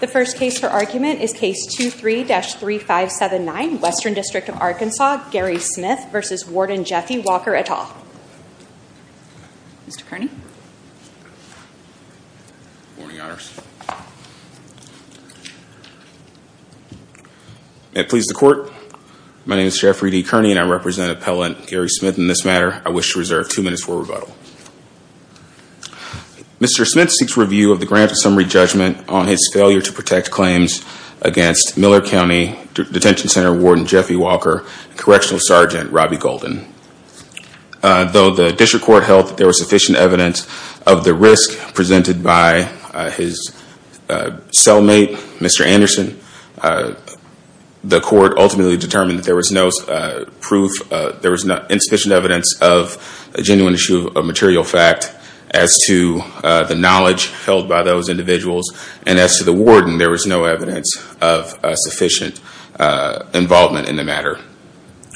The first case for argument is Case 23-3579, Western District of Arkansas, Gary Smith v. Warden Jeffie Walker, et al. May it please the Court, my name is Jeffrey D. Kearney and I represent Appellant Gary Smith in this matter. I wish to reserve two minutes for rebuttal. Mr. Smith seeks review of the Grants and Summary Judgment on his failure to protect claims against Miller County Detention Center Warden Jeffie Walker and Correctional Sergeant Robbie Golden. Though the District Court held that there was sufficient evidence of the risk presented by his cellmate, Mr. Anderson, the Court ultimately determined that there was insufficient evidence of a genuine issue of material fact as to the knowledge held by those individuals. And as to the warden, there was no evidence of sufficient involvement in the matter.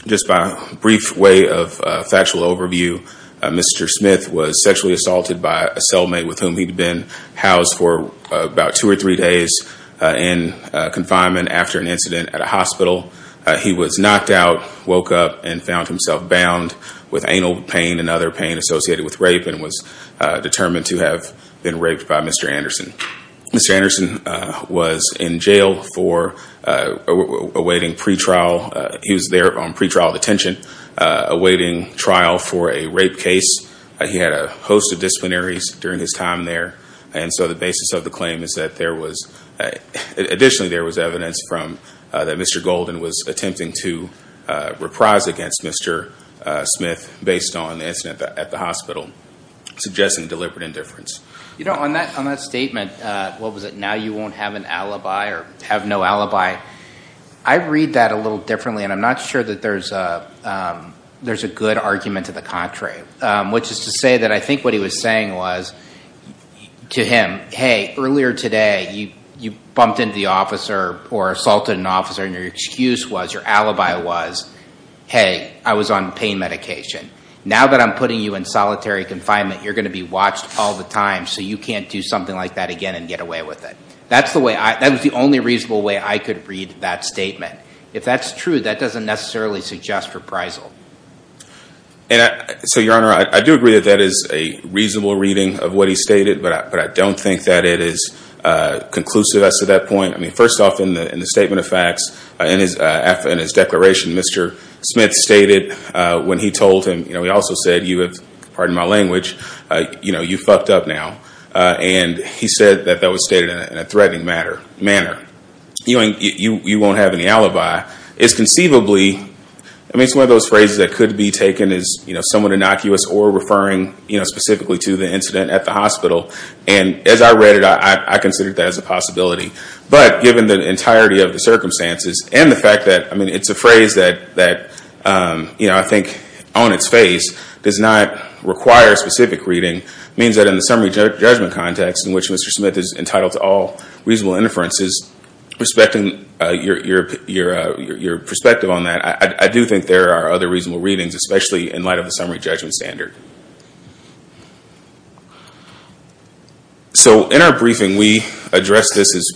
Just by a brief way of factual overview, Mr. Smith was sexually assaulted by a cellmate with whom he'd been housed for about two or three days in confinement after an incident at a hospital. He was knocked out, woke up, and found himself bound with anal pain and other pain associated with rape and was determined to have been raped by Mr. Anderson. Mr. Anderson was in jail for awaiting pre-trial, he was there on pre-trial detention awaiting trial for a rape case. He had a host of disciplinaries during his time there and so the basis of the claim is that there was, additionally there was evidence from, that Mr. Golden was attempting to reprise against Mr. Smith based on the incident at the hospital, suggesting deliberate indifference. You know, on that statement, what was it, now you won't have an alibi or have no alibi, I read that a little differently and I'm not sure that there's a good argument to the contrary, which is to say that I think what he was saying was to him, hey, earlier today you bumped into the officer or assaulted an officer and your excuse was, your alibi was, hey, I was on pain medication, now that I'm putting you in solitary confinement you're going to be watched all the time so you can't do something like that again and get away with it. That's the way, that was the only reasonable way I could read that statement. If that's true, that doesn't necessarily suggest reprisal. So your honor, I do agree that that is a reasonable reading of what he stated, but I don't think that it is conclusive as to that point. I mean, first off, in the statement of facts, in his declaration, Mr. Smith stated when he told him, he also said, pardon my language, you fucked up now. And he said that that was stated in a threatening manner. You won't have any alibi. It's conceivably, I mean, it's one of those phrases that could be taken as somewhat innocuous or referring specifically to the incident at the hospital. And as I read it, I considered that as a possibility. But given the entirety of the circumstances and the fact that, I mean, it's a phrase that, you know, I think on its face does not require specific reading, means that in the summary judgment context in which Mr. Smith is entitled to all reasonable inferences, respecting your perspective on that, I do think there are other reasonable readings, especially in light of the summary judgment standard. So in our briefing, we address this as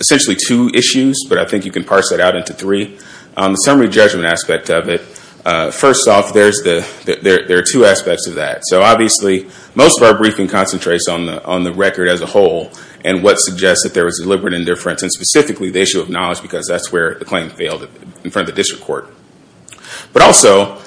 essentially two issues, but I think you can parse that out into three. The summary judgment aspect of it, first off, there are two aspects of that. So obviously, most of our briefing concentrates on the record as a whole and what suggests that there was deliberate indifference, and specifically the issue of knowledge because that's where the claim failed in front of the district court. But also,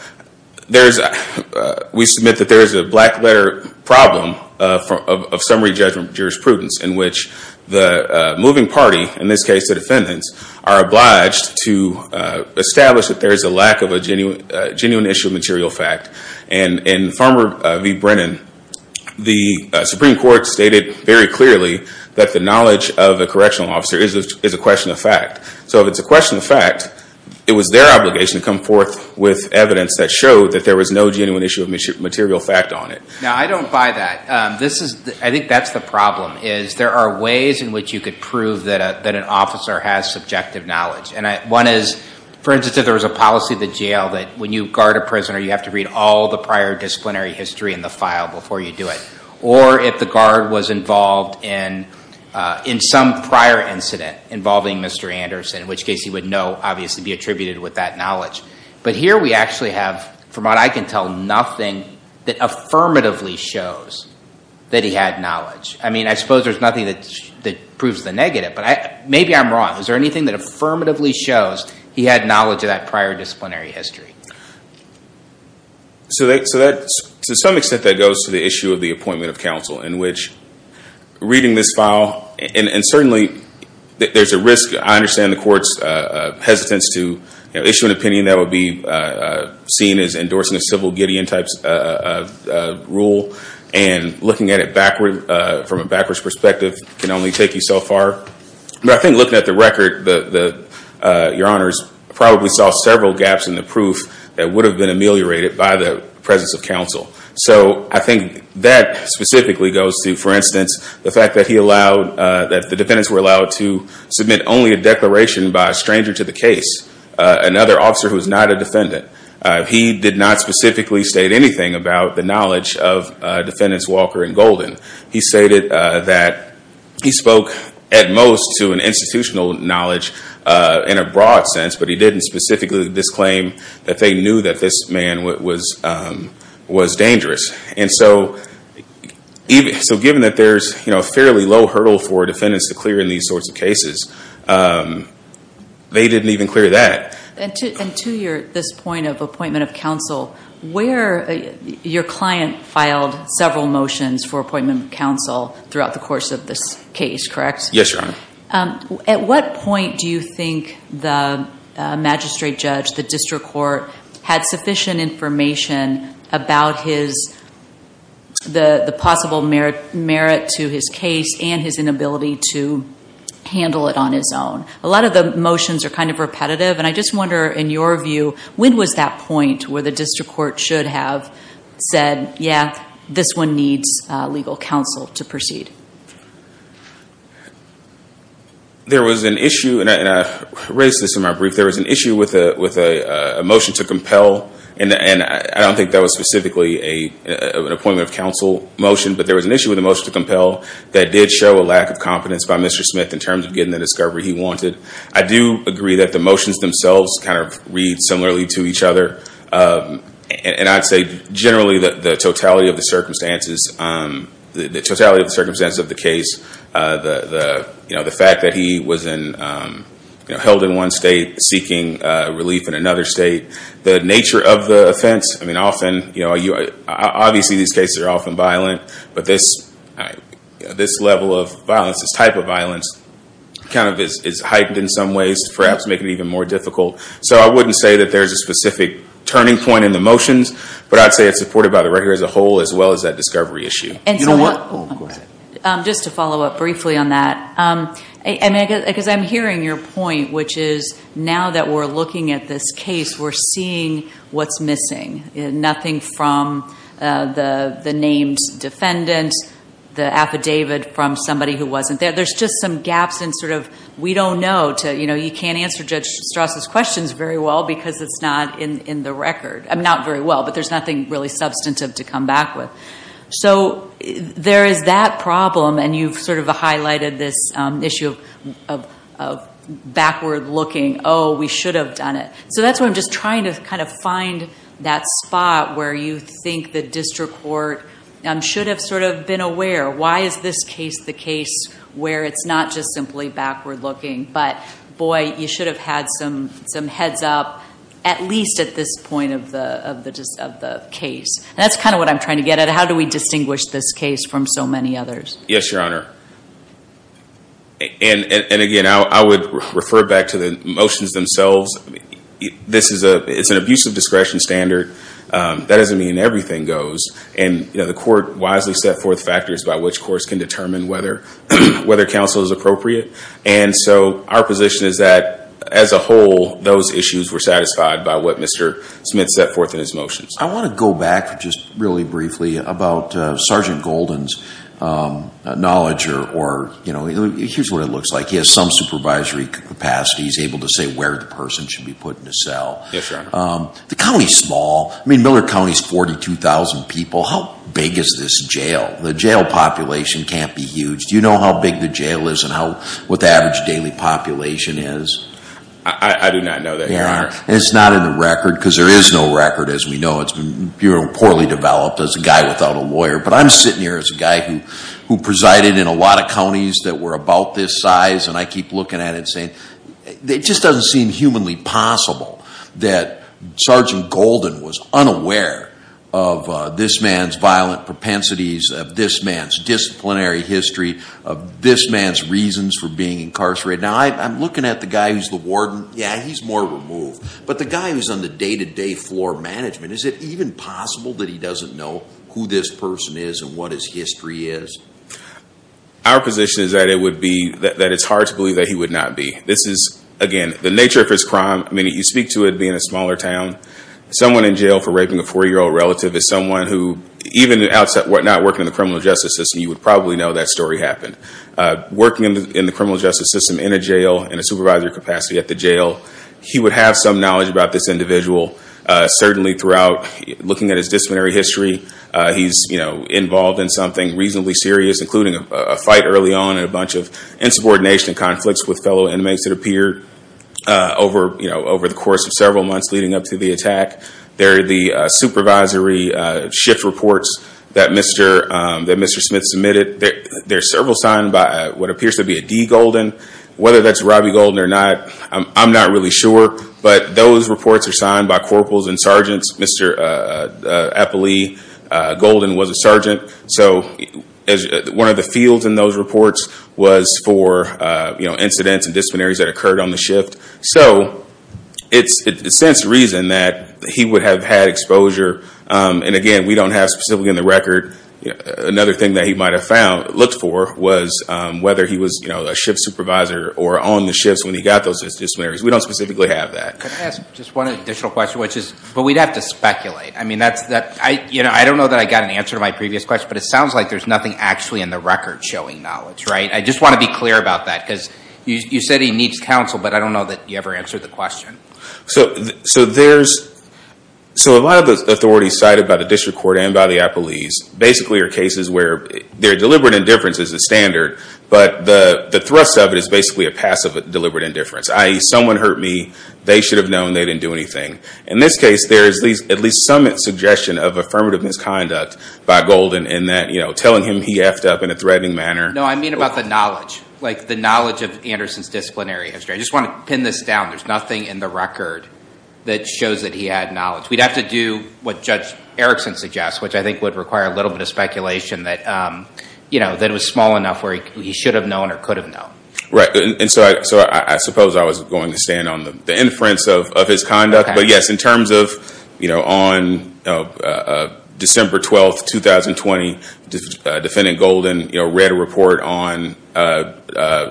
we submit that there is a black letter problem of summary judgment jurisprudence in which the moving party, in this case the defendants, are obliged to establish that there is a lack of a genuine issue of material fact. And in Farmer v. Brennan, the Supreme Court stated very clearly that the knowledge of the correctional officer is a question of fact. So if it's a question of fact, it was their obligation to come forth with evidence that showed that there was no genuine issue of material fact on it. Now, I don't buy that. I think that's the problem is there are ways in which you could prove that an officer has subjective knowledge. And one is, for instance, if there was a policy at the jail that when you guard a prisoner, you have to read all the prior disciplinary history in the file before you do it. Or if the guard was involved in some prior incident involving Mr. Anderson, in which case he would know, obviously, be attributed with that knowledge. But here we actually have, from what I can tell, nothing that affirmatively shows that he had knowledge. I mean, I suppose there's nothing that proves the negative, but maybe I'm wrong. Is there anything that affirmatively shows he had knowledge of that prior disciplinary history? So to some extent that goes to the issue of the appointment of counsel, in which reading this file, and certainly there's a risk. I understand the court's hesitance to issue an opinion that would be seen as endorsing a civil Gideon type rule. And looking at it from a backwards perspective can only take you so far. But I think looking at the record, Your Honors, probably saw several gaps in the proof that would have been ameliorated by the presence of counsel. So I think that specifically goes to, for instance, the fact that he allowed, that the defendants were allowed to submit only a declaration by a stranger to the case, another officer who is not a defendant. He did not specifically state anything about the knowledge of defendants Walker and Golden. He stated that he spoke at most to an institutional knowledge in a broad sense, but he didn't specifically disclaim that they knew that this man was dangerous. And so given that there's a fairly low hurdle for defendants to clear in these sorts of cases, they didn't even clear that. And to this point of appointment of counsel, your client filed several motions for appointment of counsel throughout the course of this case, correct? Yes, Your Honor. At what point do you think the magistrate judge, the district court, had sufficient information about the possible merit to his case and his inability to handle it on his own? A lot of the motions are kind of repetitive, and I just wonder, in your view, when was that point where the district court should have said, yeah, this one needs legal counsel to proceed? There was an issue, and I raised this in my brief, there was an issue with a motion to compel, and I don't think that was specifically an appointment of counsel motion, but there was an issue with the motion to compel that did show a lack of confidence by Mr. Smith in terms of getting the discovery he wanted. I do agree that the motions themselves kind of read similarly to each other, and I'd say generally the totality of the circumstances of the case, the fact that he was held in one state seeking relief in another state, the nature of the offense, obviously these cases are often violent, but this level of violence, this type of violence, kind of is heightened in some ways to perhaps make it even more difficult. So I wouldn't say that there's a specific turning point in the motions, but I'd say it's supported by the record as a whole as well as that discovery issue. Just to follow up briefly on that, because I'm hearing your point, which is now that we're looking at this case, we're seeing what's missing. Nothing from the named defendant, the affidavit from somebody who wasn't there. There's just some gaps in sort of we don't know. You can't answer Judge Strauss' questions very well because it's not in the record. Not very well, but there's nothing really substantive to come back with. So there is that problem, and you've sort of highlighted this issue of backward looking. Oh, we should have done it. So that's why I'm just trying to kind of find that spot where you think the district court should have sort of been aware. Why is this case the case where it's not just simply backward looking, but boy, you should have had some heads up at least at this point of the case. And that's kind of what I'm trying to get at. How do we distinguish this case from so many others? Yes, Your Honor. And again, I would refer back to the motions themselves. This is an abusive discretion standard. That doesn't mean everything goes. And the court wisely set forth factors by which courts can determine whether counsel is appropriate. And so our position is that as a whole, those issues were satisfied by what Mr. Smith set forth in his motions. I want to go back just really briefly about Sergeant Golden's knowledge or, you know, here's what it looks like. He has some supervisory capacity. He's able to say where the person should be put in a cell. Yes, Your Honor. The county's small. I mean, Miller County's 42,000 people. How big is this jail? The jail population can't be huge. Do you know how big the jail is and what the average daily population is? I do not know that, Your Honor. It's not in the record because there is no record, as we know. It's been poorly developed as a guy without a lawyer. But I'm sitting here as a guy who presided in a lot of counties that were about this size, and I keep looking at it and saying, it just doesn't seem humanly possible that Sergeant Golden was unaware of this man's violent propensities, of this man's disciplinary history, of this man's reasons for being incarcerated. Now, I'm looking at the guy who's the warden. Yeah, he's more removed. But the guy who's on the day-to-day floor management, is it even possible that he doesn't know who this person is and what his history is? Our position is that it would be that it's hard to believe that he would not be. This is, again, the nature of his crime. I mean, you speak to it being a smaller town. Someone in jail for raping a four-year-old relative is someone who, even at the outset, were not working in the criminal justice system, you would probably know that story happened. Working in the criminal justice system in a jail, in a supervisory capacity at the jail, he would have some knowledge about this individual. Certainly, throughout, looking at his disciplinary history, he's involved in something reasonably serious, including a fight early on and a bunch of insubordination and conflicts with fellow inmates that appeared over the course of several months leading up to the attack. There are the supervisory shift reports that Mr. Smith submitted. There are several signed by what appears to be a D. Golden. Whether that's Robbie Golden or not, I'm not really sure. But those reports are signed by corporals and sergeants. Mr. Eppley Golden was a sergeant. So one of the fields in those reports was for incidents and disciplinaries that occurred on the shift. So it's, in a sense, reason that he would have had exposure. And again, we don't have specifically in the record another thing that he might have looked for was whether he was a shift supervisor or on the shifts when he got those disciplinaries. We don't specifically have that. Can I ask just one additional question? But we'd have to speculate. I don't know that I got an answer to my previous question, but it sounds like there's nothing actually in the record showing knowledge, right? I just want to be clear about that because you said he needs counsel, but I don't know that you ever answered the question. So a lot of the authorities cited by the district court and by the appellees basically are cases where their deliberate indifference is the standard, but the thrust of it is basically a passive deliberate indifference, i.e., someone hurt me, they should have known, they didn't do anything. In this case, there is at least some suggestion of affirmative misconduct by Golden in that telling him he effed up in a threatening manner. No, I mean about the knowledge, like the knowledge of Anderson's disciplinary history. I just want to pin this down. There's nothing in the record that shows that he had knowledge. We'd have to do what Judge Erickson suggests, which I think would require a little bit of speculation that it was small enough where he should have known or could have known. Right, and so I suppose I was going to stand on the inference of his conduct. But, yes, in terms of on December 12, 2020, Defendant Golden read a report on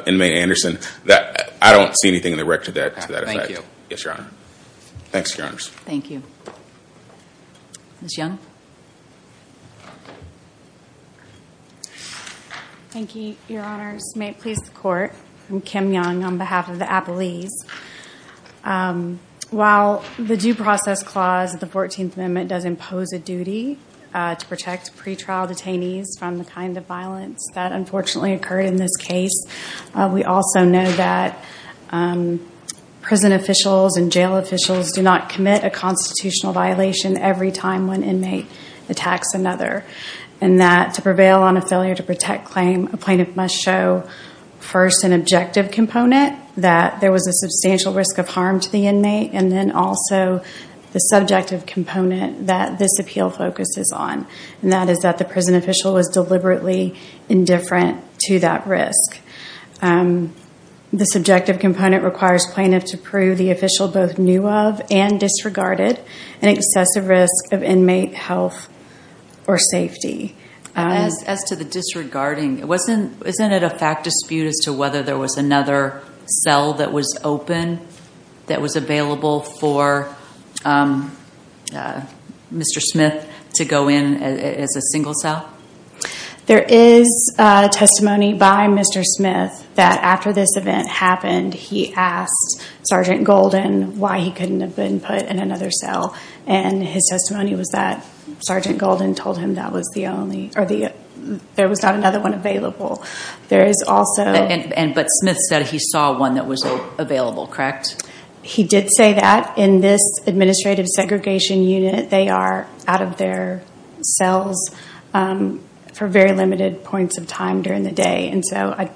inmate Anderson. I don't see anything in the record to that effect. Yes, Your Honor. Thanks, Your Honors. Thank you. Ms. Young. Thank you, Your Honors. May it please the Court, I'm Kim Young on behalf of the appellees. While the Due Process Clause of the 14th Amendment does impose a duty to protect pretrial detainees from the kind of violence that unfortunately occurred in this case, we also know that prison officials and jail officials do not commit a constitutional violation every time one inmate attacks another, and that to prevail on a failure to protect claim, a plaintiff must show first an objective component, that there was a substantial risk of harm to the inmate, and then also the subjective component that this appeal focuses on, and that is that the prison official was deliberately indifferent to that risk. The subjective component requires plaintiff to prove the official both knew of and disregarded an excessive risk of inmate health or safety. As to the disregarding, isn't it a fact dispute as to whether there was another cell that was open that was available for Mr. Smith to go in as a single cell? There is testimony by Mr. Smith that after this event happened, he asked Sergeant Golden why he couldn't have been put in another cell, and his testimony was that Sergeant Golden told him there was not another one available. But Smith said he saw one that was available, correct? He did say that. In this administrative segregation unit, they are out of their cells for very limited points of time during the day, and so I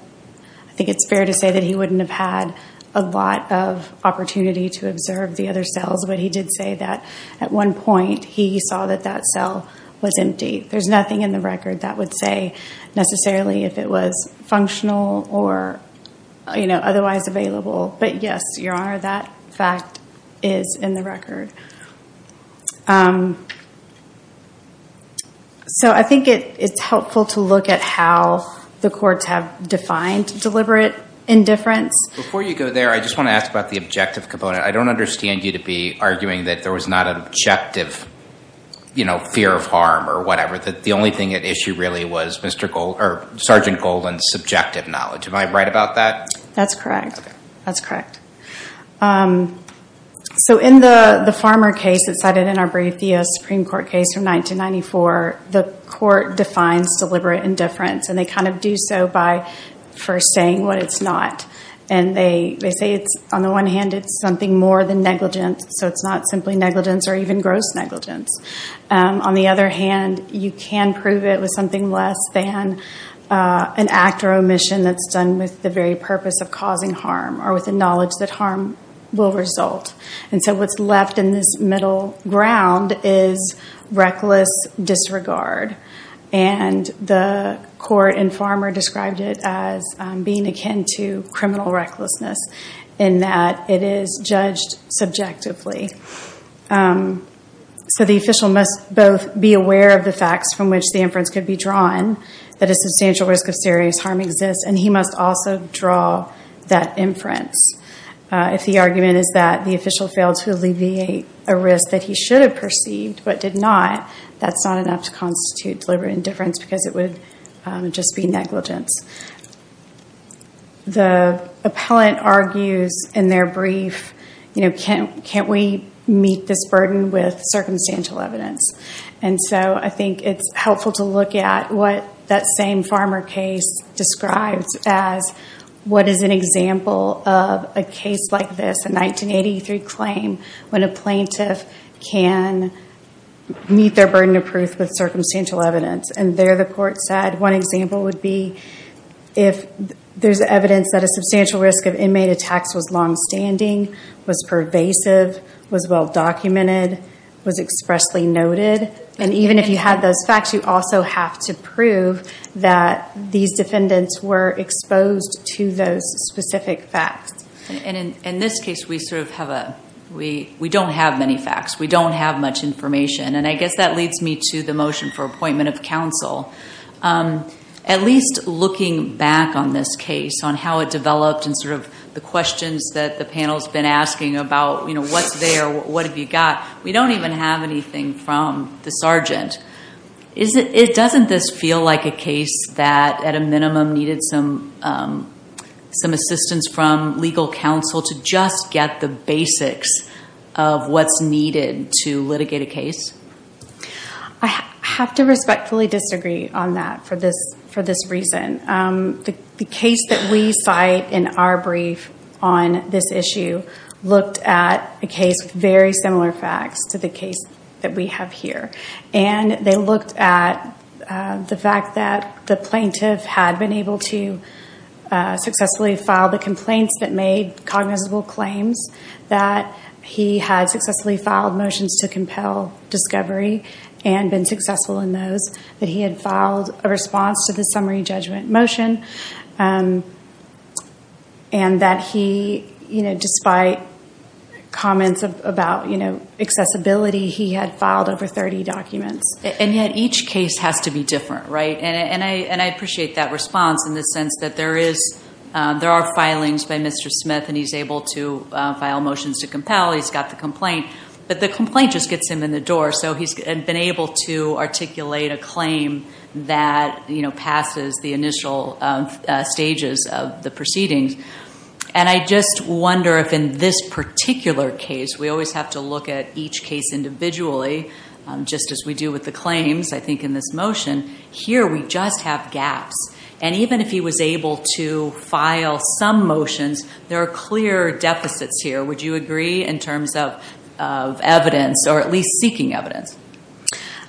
think it's fair to say that he wouldn't have had a lot of opportunity to observe the other cells, but he did say that at one point he saw that that cell was empty. There's nothing in the record that would say necessarily if it was functional or otherwise available. But yes, Your Honor, that fact is in the record. So I think it's helpful to look at how the courts have defined deliberate indifference. Before you go there, I just want to ask about the objective component. I don't understand you to be arguing that there was not an objective fear of harm or whatever, that the only thing at issue really was Sergeant Golden's subjective knowledge. Am I right about that? That's correct. Okay. That's correct. So in the Farmer case that's cited in our brief, the Supreme Court case from 1994, the court defines deliberate indifference, and they kind of do so by first saying what it's not. They say on the one hand it's something more than negligence, so it's not simply negligence or even gross negligence. On the other hand, you can prove it with something less than an act or omission that's done with the very purpose of causing harm or with the knowledge that harm will result. And so what's left in this middle ground is reckless disregard. And the court in Farmer described it as being akin to criminal recklessness in that it is judged subjectively. So the official must both be aware of the facts from which the inference could be drawn, that a substantial risk of serious harm exists, and he must also draw that inference. If the argument is that the official failed to alleviate a risk that he should have perceived but did not, that's not enough to constitute deliberate indifference because it would just be negligence. The appellant argues in their brief, can't we meet this burden with circumstantial evidence? And so I think it's helpful to look at what that same Farmer case describes as what is an example of a case like this, a 1983 claim, when a plaintiff can meet their burden of proof with circumstantial evidence. And there the court said one example would be if there's evidence that a substantial risk of inmate attacks was longstanding, was pervasive, was well-documented, was expressly noted. And even if you had those facts, you also have to prove that these defendants were exposed to those specific facts. And in this case, we don't have many facts. We don't have much information. And I guess that leads me to the motion for appointment of counsel. At least looking back on this case, on how it developed and sort of the questions that the panel's been asking about what's there, what have you got, we don't even have anything from the sergeant. Doesn't this feel like a case that at a minimum needed some assistance from legal counsel to just get the basics of what's needed to litigate a case? I have to respectfully disagree on that for this reason. The case that we cite in our brief on this issue looked at a case with very similar facts to the case that we have here. And they looked at the fact that the plaintiff had been able to successfully file the complaints that made cognizable claims, that he had successfully filed motions to compel discovery and been successful in those, that he had filed a response to the summary judgment motion, and that he, despite comments about accessibility, he had filed over 30 documents. And yet each case has to be different, right? And I appreciate that response in the sense that there are filings by Mr. Smith and he's able to file motions to compel, he's got the complaint, but the complaint just gets him in the door. So he's been able to articulate a claim that passes the initial stages of the proceedings. And I just wonder if in this particular case, we always have to look at each case individually, just as we do with the claims, I think, in this motion. Here we just have gaps. And even if he was able to file some motions, there are clear deficits here. Would you agree in terms of evidence, or at least seeking evidence?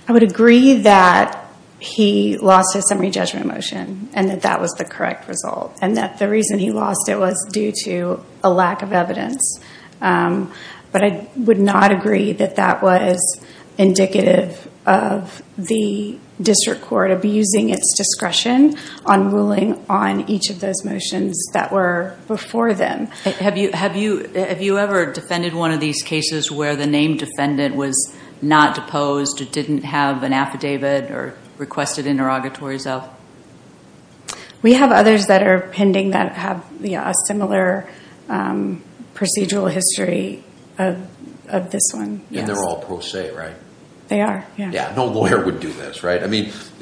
I would agree that he lost his summary judgment motion and that that was the correct result. And that the reason he lost it was due to a lack of evidence. But I would not agree that that was indicative of the district court abusing its discretion on ruling on each of those motions that were before them. Have you ever defended one of these cases where the named defendant was not deposed or didn't have an affidavit or requested interrogatories of? We have others that are pending that have a similar procedural history of this one. And they're all pro se, right? They are. No lawyer would do this, right? In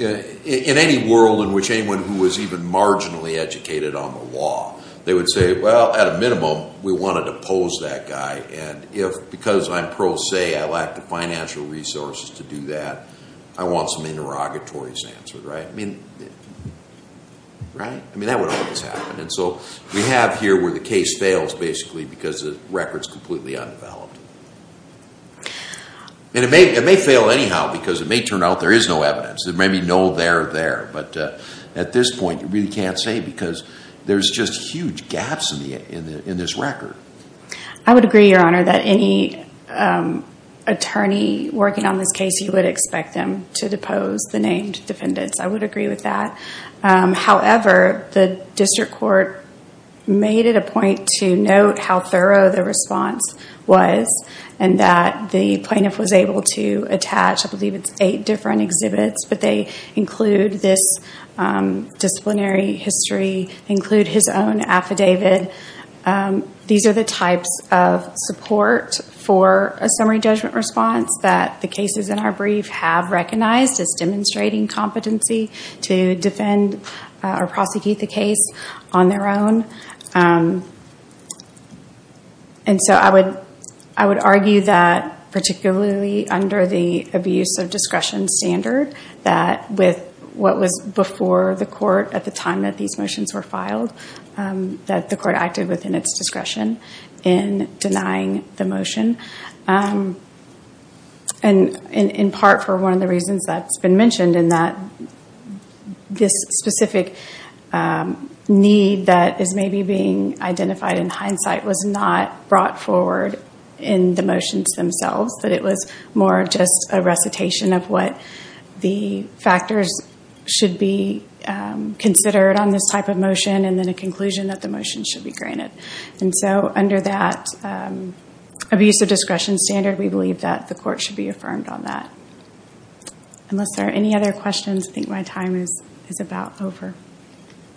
any world in which anyone who was even marginally educated on the law, they would say, well, at a minimum, we want to depose that guy. And because I'm pro se, I lack the financial resources to do that, I want some interrogatories answered, right? That would always happen. And so we have here where the case fails basically because the record's completely undeveloped. And it may fail anyhow because it may turn out there is no evidence. There may be no there there. But at this point, you really can't say because there's just huge gaps in this record. I would agree, Your Honor, that any attorney working on this case, you would expect them to depose the named defendants. I would agree with that. However, the district court made it a point to note how thorough the response was and that the plaintiff was able to attach, I believe it's eight different exhibits, but they include this disciplinary history, include his own affidavit. These are the types of support for a summary judgment response that the cases in our brief have recognized as demonstrating competency to defend or prosecute the case on their own. And so I would argue that particularly under the abuse of discretion standard, that with what was before the court at the time that these motions were filed, that the court acted within its discretion in denying the motion. And in part for one of the reasons that's been mentioned in that this specific need that is maybe being identified in hindsight was not brought forward in the motions themselves. That it was more just a recitation of what the factors should be considered on this type of motion and then a conclusion that the motion should be granted. And so under that abuse of discretion standard, we believe that the court should be affirmed on that. Unless there are any other questions, I think my time is about over.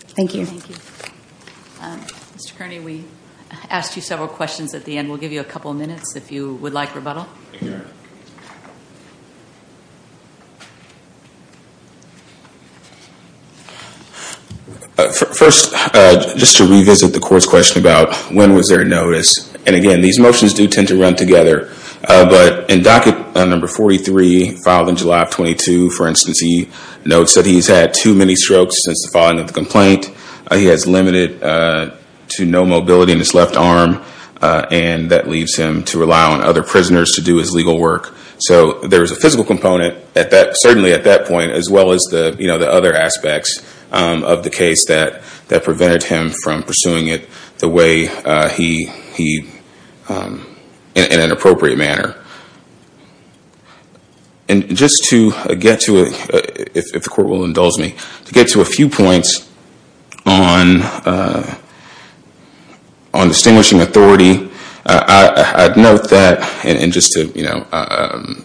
Thank you. Thank you. Mr. Kearney, we asked you several questions at the end. We'll give you a couple minutes if you would like rebuttal. First, just to revisit the court's question about when was there a notice. And again, these motions do tend to run together. But in docket number 43 filed on July 22, for instance, he notes that he's had too many strokes since the filing of the complaint. He has limited to no mobility in his left arm and that leaves him to rely on other prisoners to do his legal work. So there is a physical component, certainly at that point, as well as the other aspects of the case that prevented him from pursuing it the way he did in an appropriate manner. And just to get to, if the court will indulge me, to get to a few points on distinguishing authority, I'd note that and just to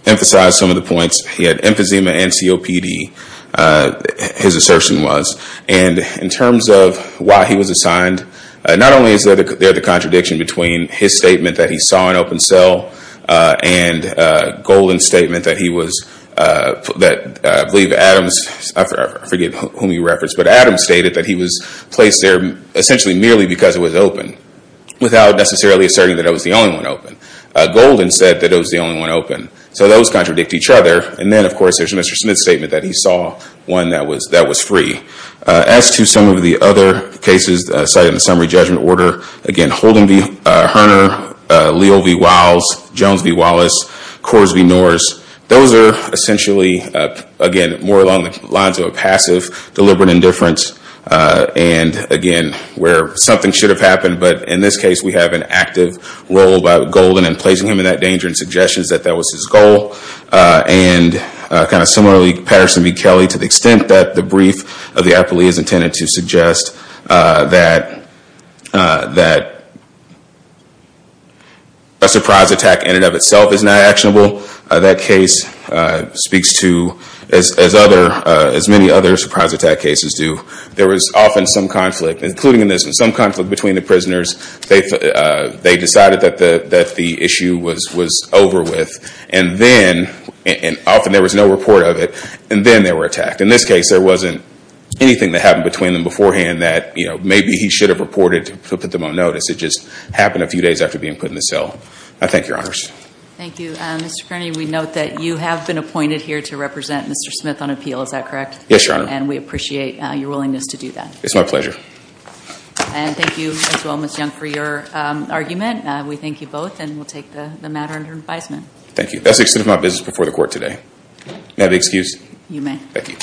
emphasize some of the points, he had emphysema and COPD, his assertion was. And in terms of why he was assigned, not only is there the contradiction between his statement that he saw an open cell and Golden's statement that he was, I believe Adams, I forget whom he referenced, but Adams stated that he was placed there essentially merely because it was open, without necessarily asserting that it was the only one open. Golden said that it was the only one open. So those contradict each other and then of course there's Mr. Smith's statement that he saw one that was free. As to some of the other cases cited in the summary judgment order, again, Holden v. Herner, Leo v. Wiles, Jones v. Wallace, Coors v. Norris, those are essentially, again, more along the lines of a passive deliberate indifference and again, where something should have happened, but in this case we have an active role about Golden and placing him in that danger and suggestions that that was his goal. And kind of similarly, Patterson v. Kelly, to the extent that the brief of the appellee is intended to suggest that a surprise attack in and of itself is not actionable, that case speaks to, as many other surprise attack cases do, there was often some conflict, including in this one, some conflict between the prisoners. They decided that the issue was over with and then, and often there was no report of it, and then they were attacked. In this case there wasn't anything that happened between them beforehand that maybe he should have reported to put them on notice. It just happened a few days after being put in the cell. I thank your honors. Thank you. Mr. Kearney, we note that you have been appointed here to represent Mr. Smith on appeal, is that correct? Yes, your honor. And we appreciate your willingness to do that. It's my pleasure. And thank you as well, Ms. Young, for your argument. We thank you both and will take the matter under advisement. Thank you. That's the extent of my business before the court today. May I have the excuse? You may. Thank you.